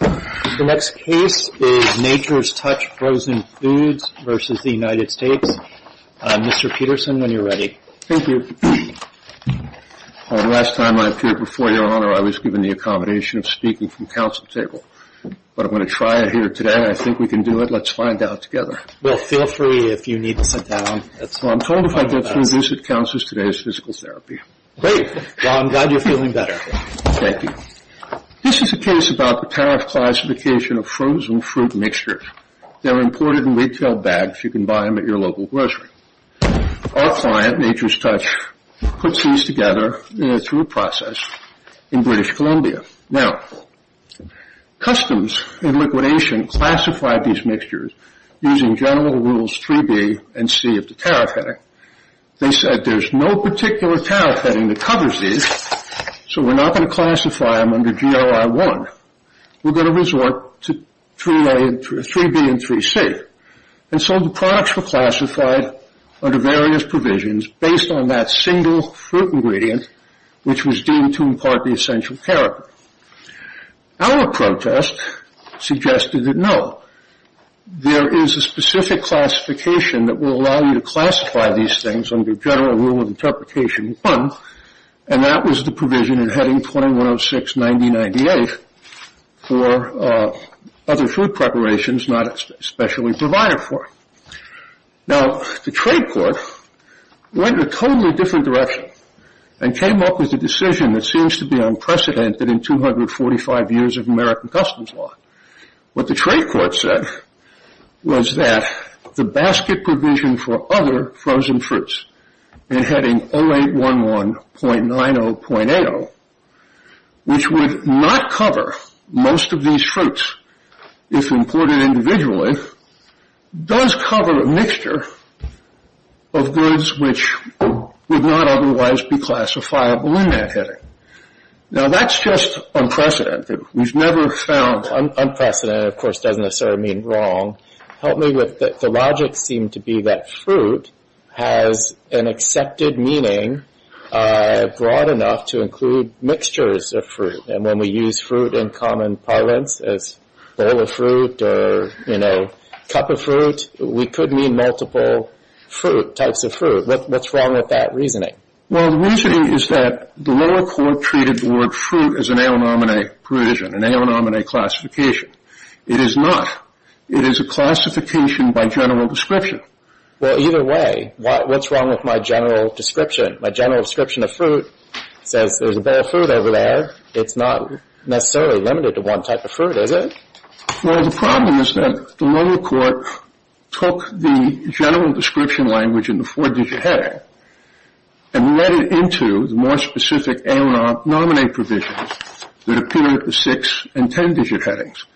The next case is Nature's Touch Frozen Foods v. United States. Mr. Peterson, when you're ready. Thank you. The last time I appeared before Your Honor, I was given the accommodation of speaking from counsel's table. But I'm going to try it here today. I think we can do it. Let's find out together. Well, feel free if you need to sit down. Well, I'm told if I get through this at counsel's, today is physical therapy. Great. Well, I'm glad you're feeling better. Thank you. This is a case about the tariff classification of frozen fruit mixtures. They're imported in retail bags. You can buy them at your local grocery. Our client, Nature's Touch, puts these together through a process in British Columbia. Now, customs and liquidation classified these mixtures using general rules 3B and C of the tariff heading. They said, there's no particular tariff heading that covers these, so we're not going to classify them under GRI 1. We're going to resort to 3B and 3C. And so the products were classified under various provisions based on that single fruit ingredient, which was deemed to impart the essential character. Our protest suggested that no. There is a specific classification that will allow you to classify these things under general rule of interpretation 1, and that was the provision in heading 2106-9098 for other fruit preparations not especially provided for. Now, the trade court went in a totally different direction and came up with a decision that seems to be unprecedented in 245 years of American customs law. What the trade court said was that the basket provision for other frozen fruits in heading 0811.90.80, which would not cover most of these fruits if imported individually, does cover a mixture of goods which would not otherwise be classifiable in that heading. Now, that's just unprecedented. We've never found... Unprecedented, of course, doesn't necessarily mean wrong. Help me with that. The logic seemed to be that fruit has an accepted meaning broad enough to include mixtures of fruit. And when we use fruit in common parlance as bowl of fruit or, you know, cup of fruit, we could mean multiple fruit, types of fruit. What's wrong with that reasoning? Well, the reasoning is that the lower court treated the word fruit as an a-l-m-a provision, an a-l-m-a classification. It is not. It is a classification by general description. Well, either way, what's wrong with my general description? My general description of fruit says there's a bowl of fruit over there. It's not necessarily limited to one type of fruit, is it? Well, the problem is that the lower court took the general description language in the four-digit heading and let it into the more specific a-l-m-a provision that appeared in the six- and ten-digit headings.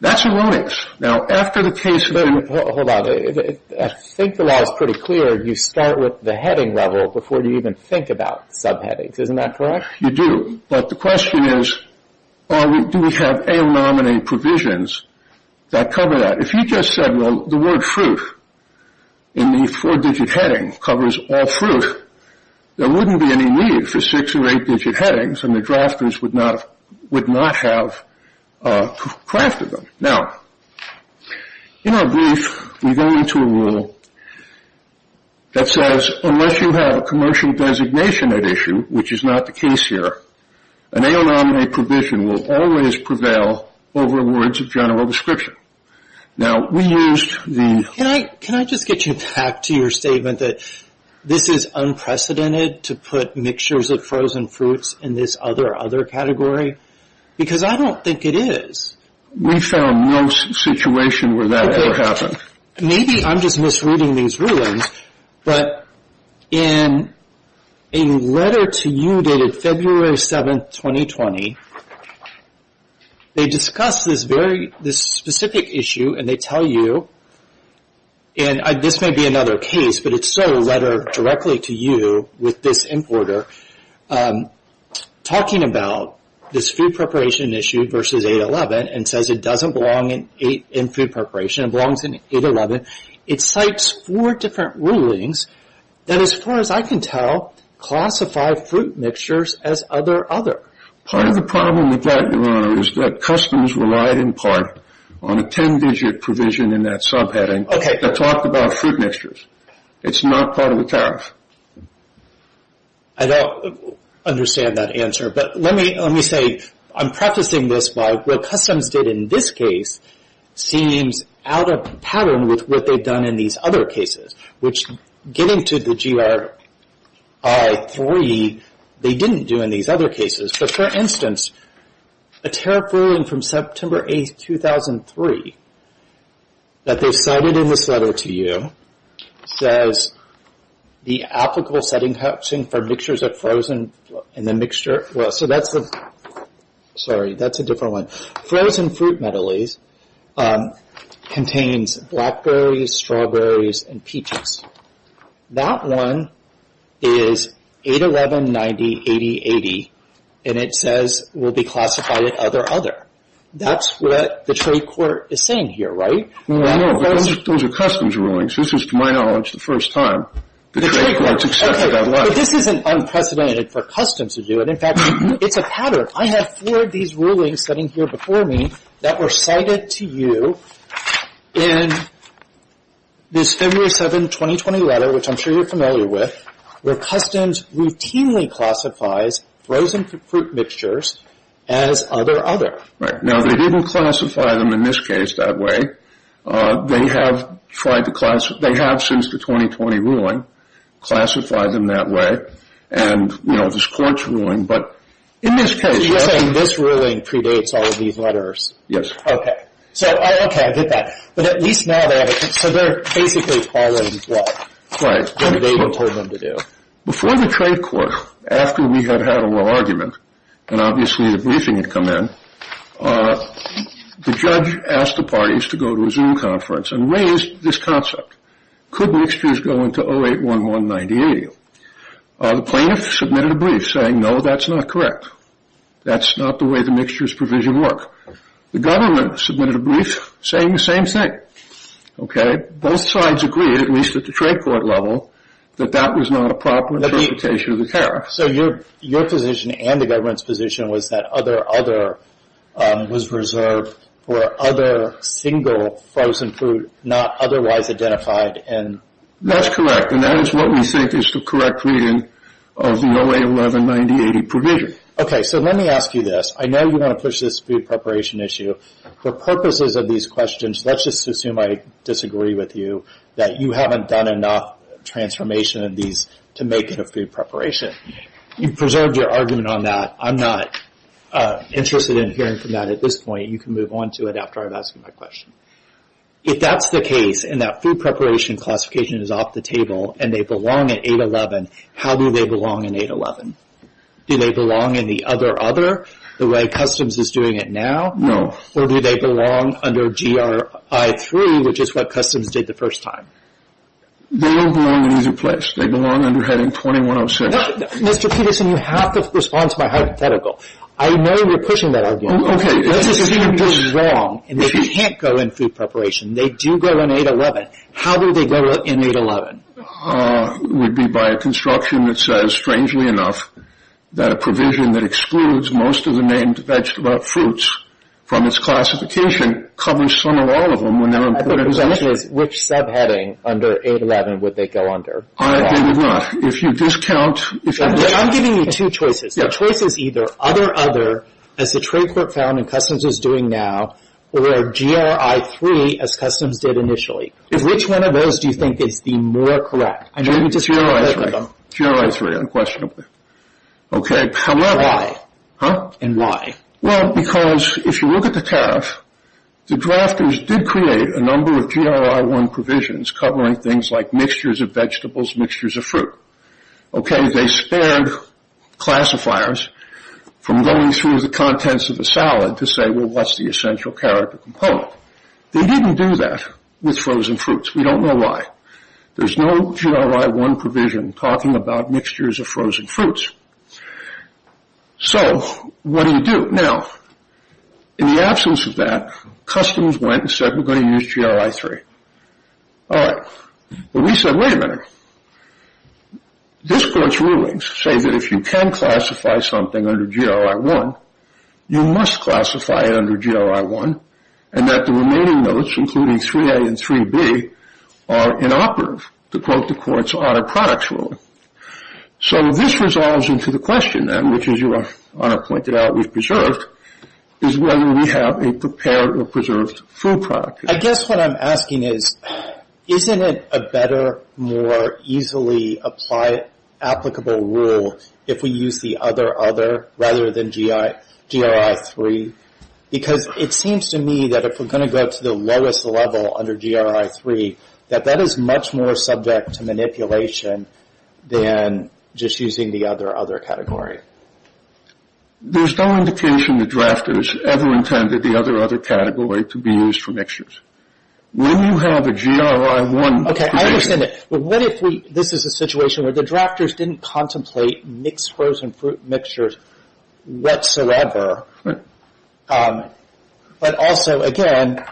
That's erroneous. Now, after the case... Hold on. I think the law is pretty clear. You start with the heading level before you even think about subheadings. Isn't that correct? You do. But the question is, do we have a-l-m-a provisions that cover that? If you just said, well, the word fruit in the four-digit heading covers all fruit, there wouldn't be any need for six- or eight-digit headings, and the drafters would not have crafted them. Now, in our brief, we go into a rule that says unless you have a commercial designation at issue, which is not the case here, an a-l-m-a provision will always prevail over words of general description. Now, we used the... Can I just get you back to your statement that this is unprecedented to put mixtures of frozen fruits in this other category? Because I don't think it is. We found no situation where that ever happened. Maybe I'm just misreading these rulings, but in a letter to you dated February 7, 2020, they discuss this specific issue, and they tell you, and this may be another case, but it's still a letter directly to you with this importer, talking about this food preparation issue versus 811, and says it doesn't belong in food preparation. It belongs in 811. It cites four different rulings that, as far as I can tell, classify fruit mixtures as other other. Part of the problem with that, Your Honor, is that Customs relied in part on a ten-digit provision in that subheading. Okay. That talked about fruit mixtures. It's not part of the tariff. I don't understand that answer, but let me say I'm prefacing this by what Customs did in this case seems out of pattern with what they've done in these other cases, which getting to the GRI-3, they didn't do in these other cases. But, for instance, a tariff ruling from September 8, 2003 that they cited in this letter to you says the applicable setting for mixtures of frozen and the mixture of... Sorry, that's a different one. Frozen fruit medleys contains blackberries, strawberries, and peaches. That one is 811.90.80.80, and it says will be classified as other other. That's what the trade court is saying here, right? No, no, no. Those are Customs rulings. This is, to my knowledge, the first time the trade court has accepted that letter. But this isn't unprecedented for Customs to do it. In fact, it's a pattern. I have four of these rulings sitting here before me that were cited to you in this February 7, 2020 letter, which I'm sure you're familiar with, where Customs routinely classifies frozen fruit mixtures as other other. Now, they didn't classify them in this case that way. They have since the 2020 ruling classified them that way. And, you know, this court's ruling, but in this case... So you're saying this ruling predates all of these letters? Yes. Okay. Okay, I get that. But at least now they have a... So they're basically following what David told them to do. Before the trade court, after we had had a little argument, and obviously the briefing had come in, the judge asked the parties to go to a Zoom conference and raised this concept. Could mixtures go into 0811-9080? The plaintiff submitted a brief saying, no, that's not correct. That's not the way the mixtures provision works. The government submitted a brief saying the same thing. Okay? Both sides agreed, at least at the trade court level, that that was not a proper interpretation of the tariff. So your position and the government's position was that other, other was reserved for other single frozen food not otherwise identified? That's correct, and that is what we think is the correct reading of the 0811-9080 provision. Okay, so let me ask you this. I know you want to push this food preparation issue. For purposes of these questions, let's just assume I disagree with you, that you haven't done enough transformation of these to make it a food preparation. You've preserved your argument on that. I'm not interested in hearing from that at this point. You can move on to it after I've asked you my question. If that's the case and that food preparation classification is off the table and they belong in 0811, how do they belong in 0811? Do they belong in the other, other, the way Customs is doing it now? No. Or do they belong under GRI-3, which is what Customs did the first time? They don't belong in either place. They belong under heading 2106. Mr. Peterson, you have to respond to my hypothetical. I know you're pushing that argument. Let's just assume this is wrong and they can't go in food preparation. They do go in 0811. How do they go in 0811? It would be by a construction that says, strangely enough, that a provision that excludes most of the named vegetable fruits from its classification covers some or all of them. I think the question is, which subheading under 0811 would they go under? I agree with that. If you discount... I'm giving you two choices. The choice is either other, other, as the trade court found and Customs is doing now, or GRI-3, as Customs did initially. Which one of those do you think is the more correct? GRI-3. Very unquestionably. Okay. Why? Huh? And why? Well, because if you look at the tariff, the drafters did create a number of GRI-1 provisions covering things like mixtures of vegetables, mixtures of fruit. Okay. They spared classifiers from going through the contents of the salad to say, well, what's the essential character component? They didn't do that with frozen fruits. We don't know why. There's no GRI-1 provision talking about mixtures of frozen fruits. So what do you do? Now, in the absence of that, Customs went and said, we're going to use GRI-3. All right. But we said, wait a minute. This court's rulings say that if you can classify something under GRI-1, you must classify it under GRI-1, and that the remaining notes, including 3A and 3B, are inoperative to quote the court's audit products rule. So this resolves into the question, then, which, as your Honor pointed out, we've preserved, is whether we have a prepared or preserved food product. I guess what I'm asking is, isn't it a better, more easily applicable rule if we use the other-other rather than GRI-3? Because it seems to me that if we're going to go to the lowest level under GRI-3, that that is much more subject to manipulation than just using the other-other category. There's no indication the drafters ever intended the other-other category to be used for mixtures. When you have a GRI-1 provision. Okay, I understand that. But what if we, this is a situation where the drafters didn't contemplate mixed frozen fruit mixtures whatsoever. But also, again,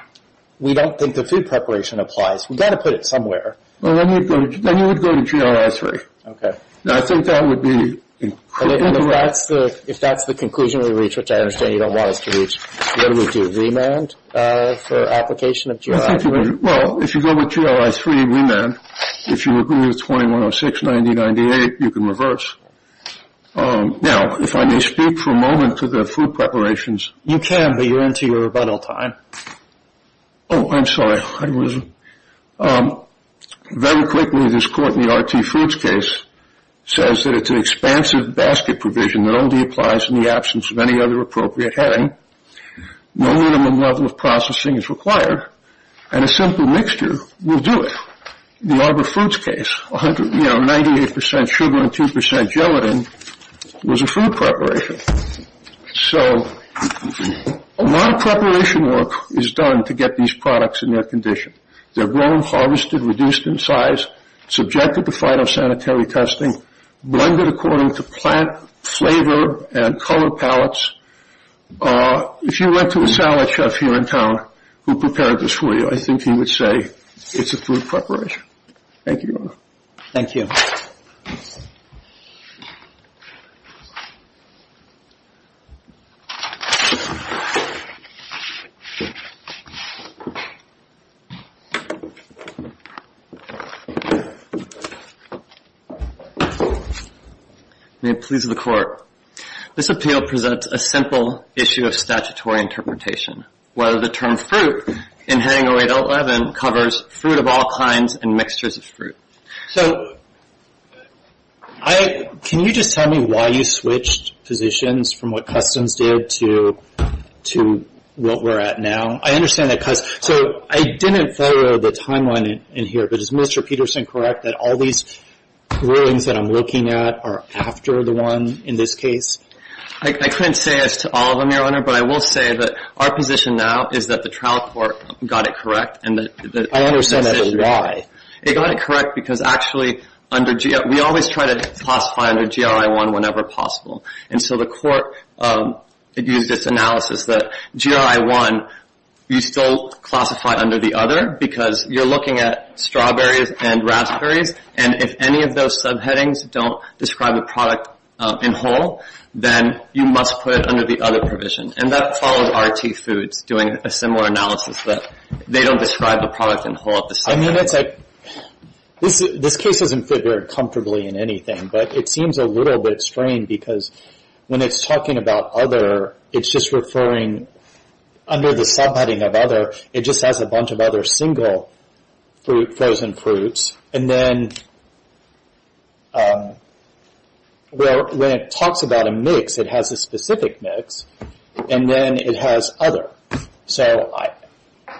we don't think the food preparation applies. We've got to put it somewhere. Well, then you would go to GRI-3. Okay. I think that would be... If that's the conclusion we reach, which I understand you don't want us to reach, what do we do, remand for application of GRI-3? Well, if you go with GRI-3 remand, if you agree with 2106.90.98, you can reverse. Now, if I may speak for a moment to the food preparations. You can, but you're into your rebuttal time. Oh, I'm sorry. Very quickly, this court in the RT Foods case says that it's an expansive basket provision that only applies in the absence of any other appropriate heading. No minimum level of processing is required, and a simple mixture will do it. The Arbor Fruits case, you know, 98% sugar and 2% gelatin was a food preparation. So a lot of preparation work is done to get these products in their condition. They're grown, harvested, reduced in size, subjected to phytosanitary testing, blended according to plant flavor and color palettes. If you went to a salad chef here in town who prepared this for you, I think he would say it's a food preparation. Thank you, Your Honor. Thank you. May it please the Court. This appeal presents a simple issue of statutory interpretation, whether the term fruit in heading 0811 covers fruit of all kinds and mixtures of fruit. So can you just tell me why you switched positions from what Customs did to what we're at now? I understand that Customs – so I didn't follow the timeline in here, but is Mr. Peterson correct that all these rulings that I'm looking at are after the one in this case? I couldn't say as to all of them, Your Honor, but I will say that our position now is that the trial court got it correct. I understand that. Why? It got it correct because actually under – we always try to classify under GRI 1 whenever possible. And so the Court used its analysis that GRI 1 you still classify under the other because you're looking at strawberries and raspberries, and if any of those subheadings don't describe the product in whole, then you must put it under the other provision. And that follows R.T. Foods doing a similar analysis that they don't describe the product in whole. I mean, it's like – this case doesn't fit very comfortably in anything, but it seems a little bit strange because when it's talking about other, it's just referring – under the subheading of other, it just has a bunch of other single frozen fruits. And then when it talks about a mix, it has a specific mix, and then it has other. So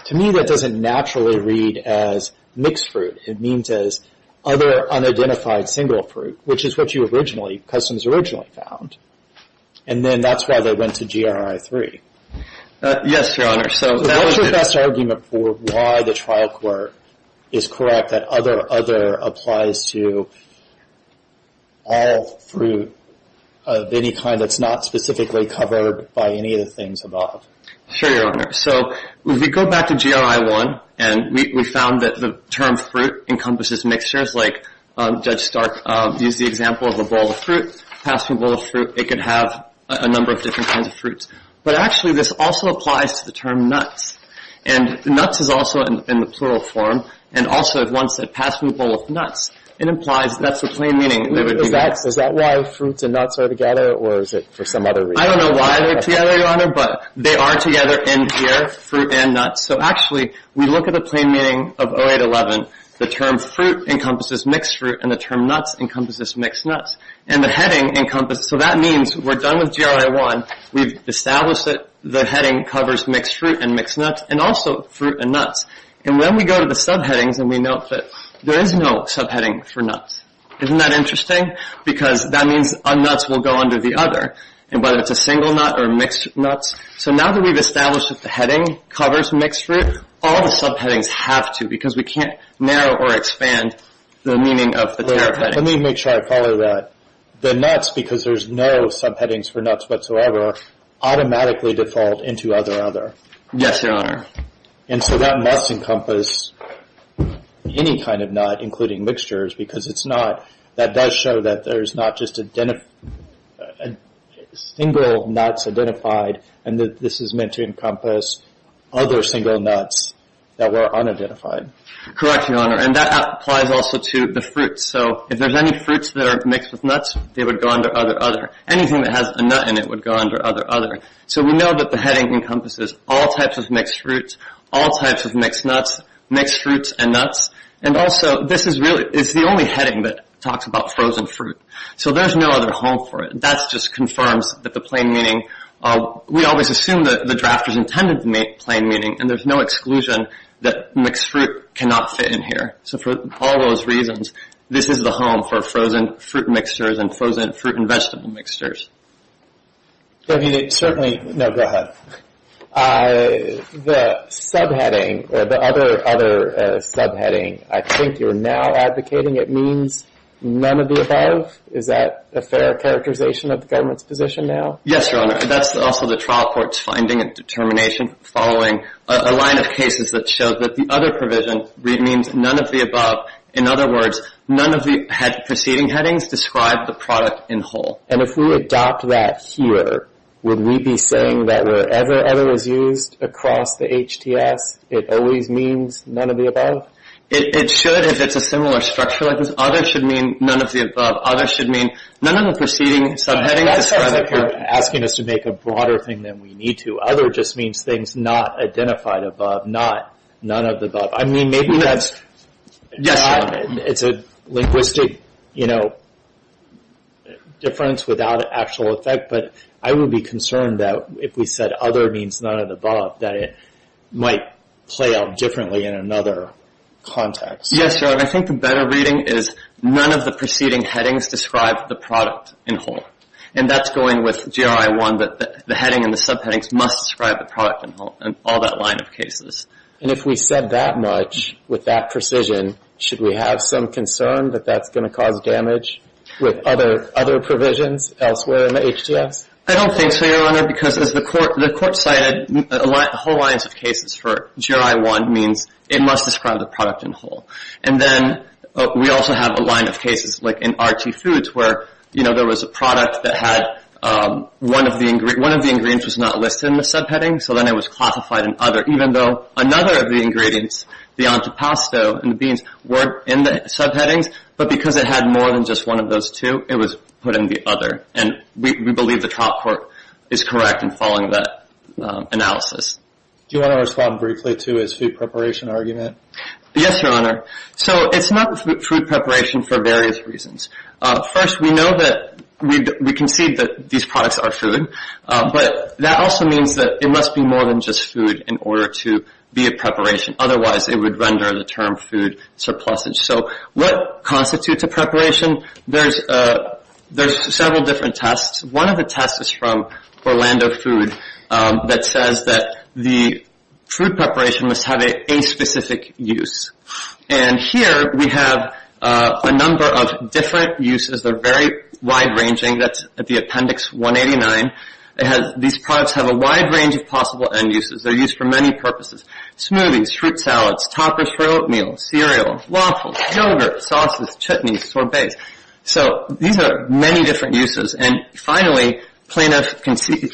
to me, that doesn't naturally read as mixed fruit. It means as other unidentified single fruit, which is what you originally – Customs originally found. And then that's why they went to GRI 3. Yes, Your Honor. So what's your best argument for why the trial court is correct that other, other, applies to all fruit of any kind that's not specifically covered by any of the things above? Sure, Your Honor. So if we go back to GRI 1, and we found that the term fruit encompasses mixtures, like Judge Stark used the example of a bowl of fruit, passing a bowl of fruit, it could have a number of different kinds of fruits. But actually, this also applies to the term nuts. And nuts is also in the plural form. And also, if one said passing a bowl of nuts, it implies that's the plain meaning. Is that why fruits and nuts are together, or is it for some other reason? I don't know why they're together, Your Honor, but they are together in here, fruit and nuts. So actually, we look at the plain meaning of 0811. The term fruit encompasses mixed fruit, and the term nuts encompasses mixed nuts. And the heading encompasses – so that means we're done with GRI 1. We've established that the heading covers mixed fruit and mixed nuts, and also fruit and nuts. And when we go to the subheadings, and we note that there is no subheading for nuts. Isn't that interesting? Because that means nuts will go under the other, whether it's a single nut or mixed nuts. So now that we've established that the heading covers mixed fruit, all the subheadings have to, because we can't narrow or expand the meaning of the term heading. Let me make sure I follow that. The nuts, because there's no subheadings for nuts whatsoever, automatically default into other, other. Yes, Your Honor. And so that must encompass any kind of nut, including mixtures, because it's not – that does show that there's not just single nuts identified, and that this is meant to encompass other single nuts that were unidentified. Correct, Your Honor. And that applies also to the fruits. So if there's any fruits that are mixed with nuts, they would go under other, other. Anything that has a nut in it would go under other, other. So we know that the heading encompasses all types of mixed fruits, all types of mixed nuts, mixed fruits and nuts. And also, this is really – it's the only heading that talks about frozen fruit. So there's no other home for it. That just confirms that the plain meaning – we always assume that the drafters intended the plain meaning, and there's no exclusion that mixed fruit cannot fit in here. So for all those reasons, this is the home for frozen fruit mixtures and frozen fruit and vegetable mixtures. I mean, it certainly – no, go ahead. The subheading, the other subheading, I think you're now advocating it means none of the above. Is that a fair characterization of the government's position now? Yes, Your Honor. That's also the trial court's finding and determination following a line of cases that show that the other provision means none of the above. In other words, none of the preceding headings describe the product in whole. And if we adopt that here, would we be saying that wherever other is used across the HTS, it always means none of the above? It should if it's a similar structure like this. Other should mean none of the above. Other should mean none of the preceding subheadings describe the product. That sounds like you're asking us to make a broader thing than we need to. Other just means things not identified above, not none of the above. I mean, maybe that's – Yes, Your Honor. It's a linguistic, you know, difference without actual effect. But I would be concerned that if we said other means none of the above, that it might play out differently in another context. Yes, Your Honor. I think the better reading is none of the preceding headings describe the product in whole. And that's going with GRI 1, that the heading and the subheadings must describe the product in whole in all that line of cases. And if we said that much with that precision, should we have some concern that that's going to cause damage with other provisions elsewhere in the HTS? I don't think so, Your Honor, because as the court cited, the whole lines of cases for GRI 1 means it must describe the product in whole. And then we also have a line of cases like in RT Foods where, you know, there was a product that had one of the ingredients was not listed in the subheading, so then it was classified in other even though another of the ingredients, the antipasto and the beans, weren't in the subheadings. But because it had more than just one of those two, it was put in the other. And we believe the trial court is correct in following that analysis. Do you want to respond briefly to his food preparation argument? Yes, Your Honor. So it's not food preparation for various reasons. First, we know that we concede that these products are food. But that also means that it must be more than just food in order to be a preparation. Otherwise, it would render the term food surplusage. So what constitutes a preparation? There's several different tests. One of the tests is from Orlando Food that says that the food preparation must have an aspecific use. And here we have a number of different uses. They're very wide ranging. That's at the appendix 189. These products have a wide range of possible end uses. They're used for many purposes. Smoothies, fruit salads, toppers for oatmeal, cereal, waffles, yogurt, sauces, chutneys, sorbets. So these are many different uses. And finally, plaintiff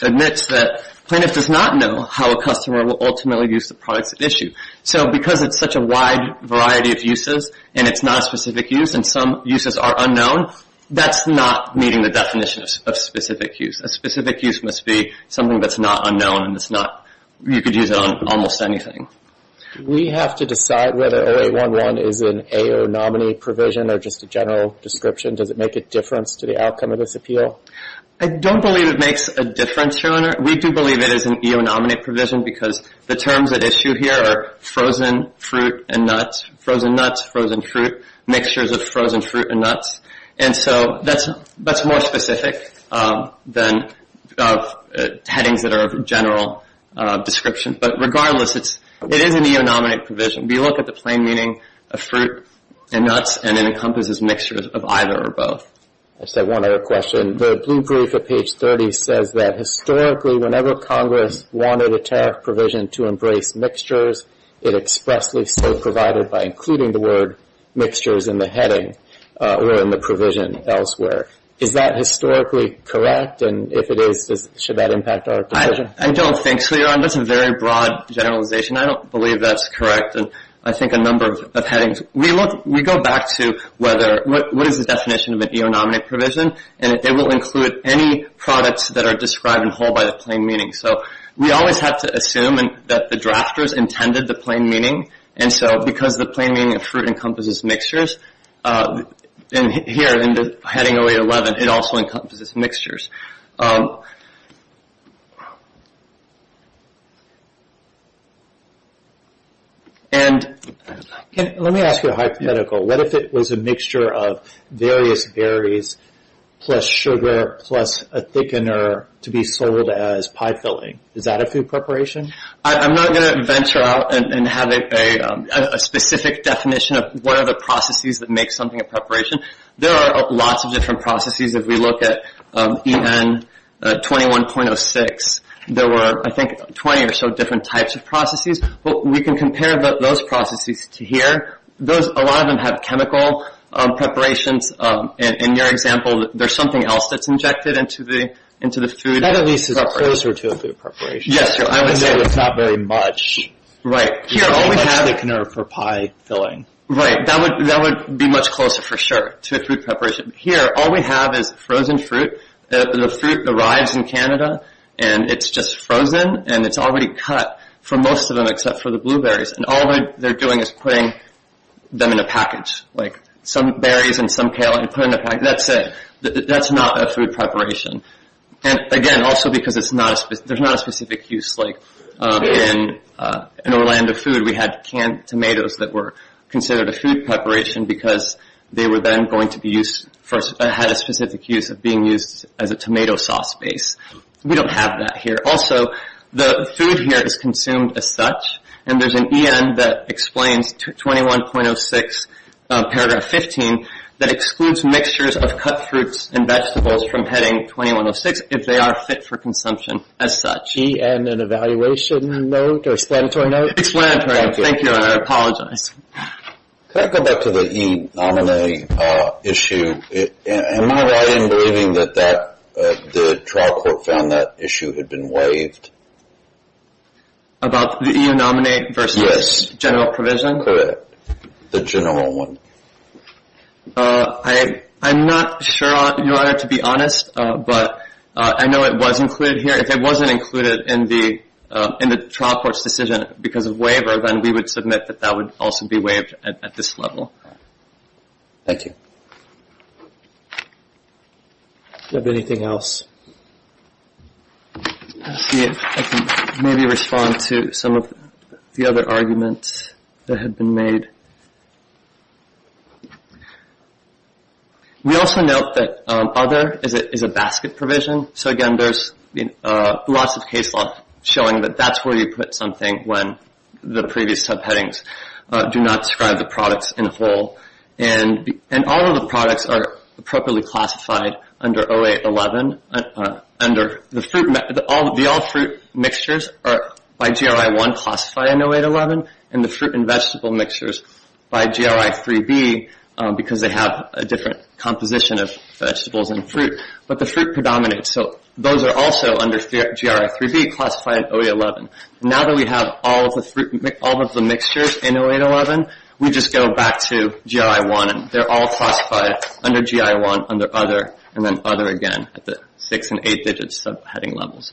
admits that plaintiff does not know how a customer will ultimately use the products at issue. So because it's such a wide variety of uses and it's not a specific use and some uses are unknown, that's not meeting the definition of specific use. A specific use must be something that's not unknown and you could use it on almost anything. We have to decide whether 0811 is an AO nominee provision or just a general description. Does it make a difference to the outcome of this appeal? I don't believe it makes a difference, Your Honor. We do believe it is an AO nominee provision because the terms at issue here are frozen fruit and nuts, frozen nuts, frozen fruit, mixtures of frozen fruit and nuts. And so that's more specific than headings that are of general description. But regardless, it is an AO nominee provision. We look at the plain meaning of fruit and nuts and it encompasses mixtures of either or both. I just have one other question. The blue brief at page 30 says that historically whenever Congress wanted a tariff provision to embrace mixtures, it expressly so provided by including the word mixtures in the heading or in the provision elsewhere. Is that historically correct? And if it is, should that impact our decision? I don't think so, Your Honor. That's a very broad generalization. I don't believe that's correct in I think a number of headings. We go back to what is the definition of an AO nominee provision, and it will include any products that are described in whole by the plain meaning. So we always have to assume that the drafters intended the plain meaning, and so because the plain meaning of fruit encompasses mixtures, and here in the heading 0811, it also encompasses mixtures. Let me ask you a hypothetical. What if it was a mixture of various berries plus sugar plus a thickener to be sold as pie filling? Is that a food preparation? I'm not going to venture out and have a specific definition of what are the processes that make something a preparation. There are lots of different processes. If we look at EN 21.06, there were, I think, 20 or so different types of processes. We can compare those processes to here. A lot of them have chemical preparations. In your example, there's something else that's injected into the food preparation. That at least is closer to a food preparation. Yes, Your Honor. I would say it's not very much. Right. You only have the thickener for pie filling. Right. That would be much closer, for sure, to a food preparation. Here, all we have is frozen fruit. The fruit arrives in Canada, and it's just frozen, and it's already cut for most of them except for the blueberries, and all they're doing is putting them in a package, like some berries and some kale are put in a package. That's it. That's not a food preparation. Again, also because there's not a specific use. In Orlando food, we had canned tomatoes that were considered a food preparation because they were then going to be used for a specific use of being used as a tomato sauce base. We don't have that here. Also, the food here is consumed as such, and there's an EN that explains 21.06, paragraph 15, that excludes mixtures of cut fruits and vegetables from heading 2106 if they are fit for consumption as such. EN, an evaluation note or explanatory note? Explanatory. Thank you. Thank you, Your Honor. I apologize. Can I go back to the e-nominee issue? Am I right in believing that the trial court found that issue had been waived? About the e-nominee versus general provision? Yes, the general one. I'm not sure, Your Honor, to be honest, but I know it was included here. If it wasn't included in the trial court's decision because of waiver, then we would submit that that would also be waived at this level. Thank you. Do you have anything else? Let's see if I can maybe respond to some of the other arguments that have been made. We also note that other is a basket provision. So, again, there's lots of case law showing that that's where you put something when the previous subheadings do not describe the products in full. And all of the products are appropriately classified under 0811. The all fruit mixtures are by GRI 1 classified in 0811, and the fruit and vegetable mixtures by GRI 3B because they have a different composition of vegetables and fruit. But the fruit predominates. So those are also under GRI 3B classified in 0811. Now that we have all of the mixtures in 0811, we just go back to GRI 1, and they're all classified under GRI 1, under other, and then other again at the six- and eight-digit subheading levels.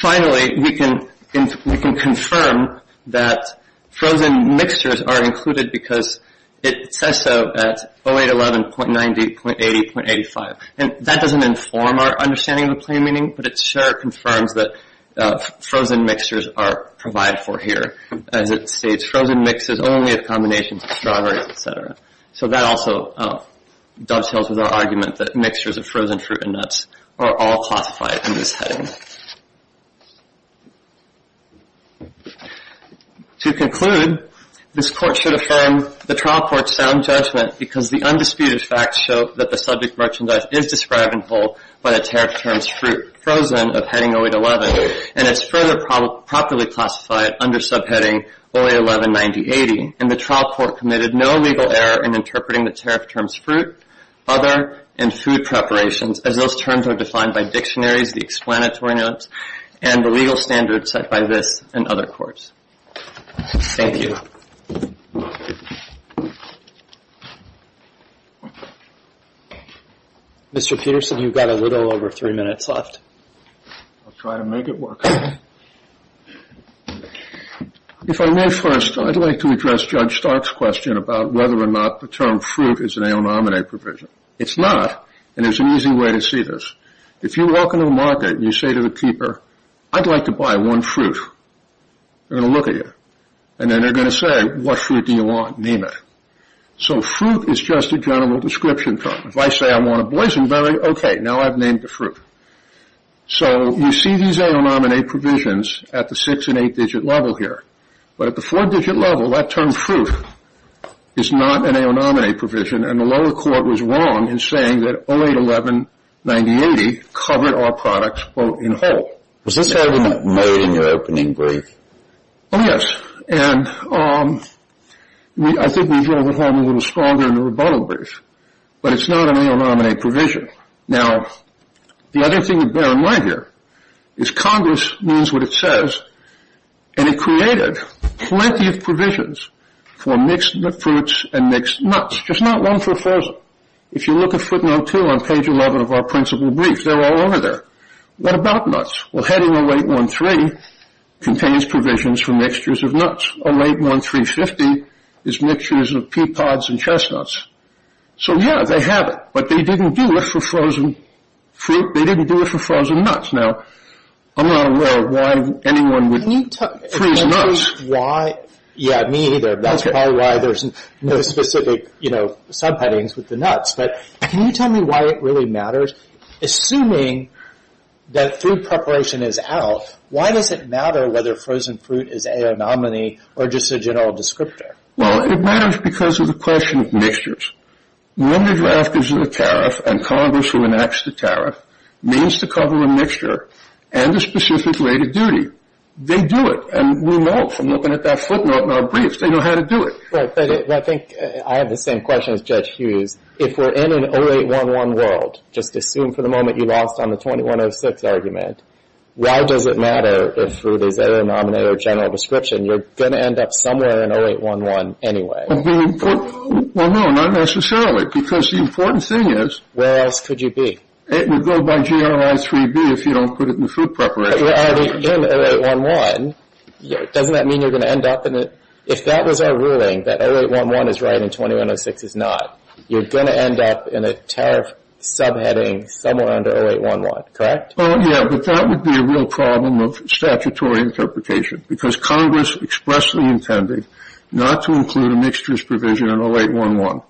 Finally, we can confirm that frozen mixtures are included because it says so at 0811.90.80.85. And that doesn't inform our understanding of the plain meaning, but it sure confirms that frozen mixtures are provided for here. As it states, frozen mixes only of combinations of strawberries, et cetera. So that also dovetails with our argument that mixtures of frozen fruit and nuts are all classified in this heading. To conclude, this court should affirm the trial court's sound judgment because the undisputed facts show that the subject merchandise is described and held by the tariff term's fruit, frozen, of heading 0811. And it's further properly classified under subheading 0811.90.80. And the trial court committed no legal error in interpreting the tariff term's fruit, other, and food preparations, as those terms are defined by dictionaries, the explanatory notes, and the legal standards set by this and other courts. Thank you. Mr. Peterson, you've got a little over three minutes left. I'll try to make it work. If I may first, I'd like to address Judge Stark's question about whether or not the term fruit is an aonominate provision. It's not, and there's an easy way to see this. If you walk into the market and you say to the keeper, I'd like to buy one fruit, they're going to look at you, and then they're going to say, what fruit do you want? Name it. So fruit is just a general description term. If I say I want a boysenberry, okay, now I've named the fruit. So you see these aonominate provisions at the six- and eight-digit level here. But at the four-digit level, that term fruit is not an aonominate provision, and the lower court was wrong in saying that 0811.90.80 covered our products, quote, in whole. Was this held in that mode in your opening brief? Oh, yes, and I think we drove it home a little stronger in the rebuttal brief, but it's not an aonominate provision. Now, the other thing to bear in mind here is Congress means what it says, and it created plenty of provisions for mixed fruits and mixed nuts, just not one for a thousand. If you look at footnote two on page 11 of our principal brief, they're all over there. What about nuts? Well, heading 0813 contains provisions for mixtures of nuts. 0813.50 is mixtures of pea pods and chestnuts. So, yeah, they have it, but they didn't do it for frozen fruit. They didn't do it for frozen nuts. Now, I'm not aware of why anyone would freeze nuts. Yeah, me either. That's probably why there's no specific, you know, subheadings with the nuts. But can you tell me why it really matters? Assuming that food preparation is out, why does it matter whether frozen fruit is a aonominate or just a general descriptor? Well, it matters because of the question of mixtures. When the draft gives you the tariff and Congress re-enacts the tariff, it means to cover a mixture and a specific rate of duty. They do it, and we know it from looking at that footnote in our brief. They know how to do it. Well, I think I have the same question as Judge Hughes. If we're in an 0811 world, just assume for the moment you lost on the 2106 argument, why does it matter if fruit is a aonominate or general description? You're going to end up somewhere in 0811 anyway. Well, no, not necessarily, because the important thing is… Where else could you be? It would go by generalize 3B if you don't put it in the food preparation. But we're already in 0811. Doesn't that mean you're going to end up in it? If that was our ruling, that 0811 is right and 2106 is not, you're going to end up in a tariff subheading somewhere under 0811, correct? Oh, yeah, but that would be a real problem of statutory interpretation because Congress expressly intended not to include a mixtures provision in 0811.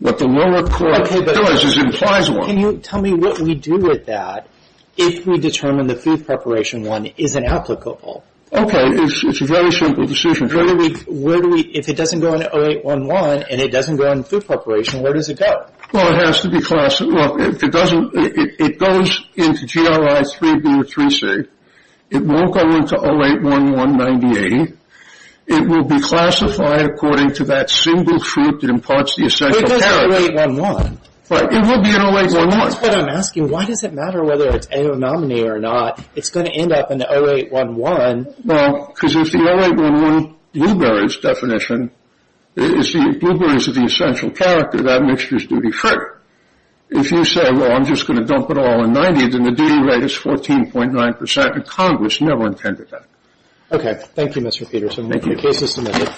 What the lower court realizes implies one. Can you tell me what we do with that if we determine the food preparation one isn't applicable? Okay, it's a very simple decision. If it doesn't go into 0811 and it doesn't go into food preparation, where does it go? Well, it has to be classified. Look, if it goes into GRI 3B or 3C, it won't go into 0811 98. It will be classified according to that single fruit that imparts the essential tariff. But it does 0811. It would be in 0811. That's what I'm asking. Why does it matter whether it's aonominate or not? It's going to end up in 0811. Well, because if the 0811 blueberries definition is the blueberries are the essential tariff, that mixture is duty free. If you say, well, I'm just going to dump it all in 90, then the duty rate is 14.9%, and Congress never intended that. Okay. Thank you, Mr. Peterson. Thank you. The case is submitted.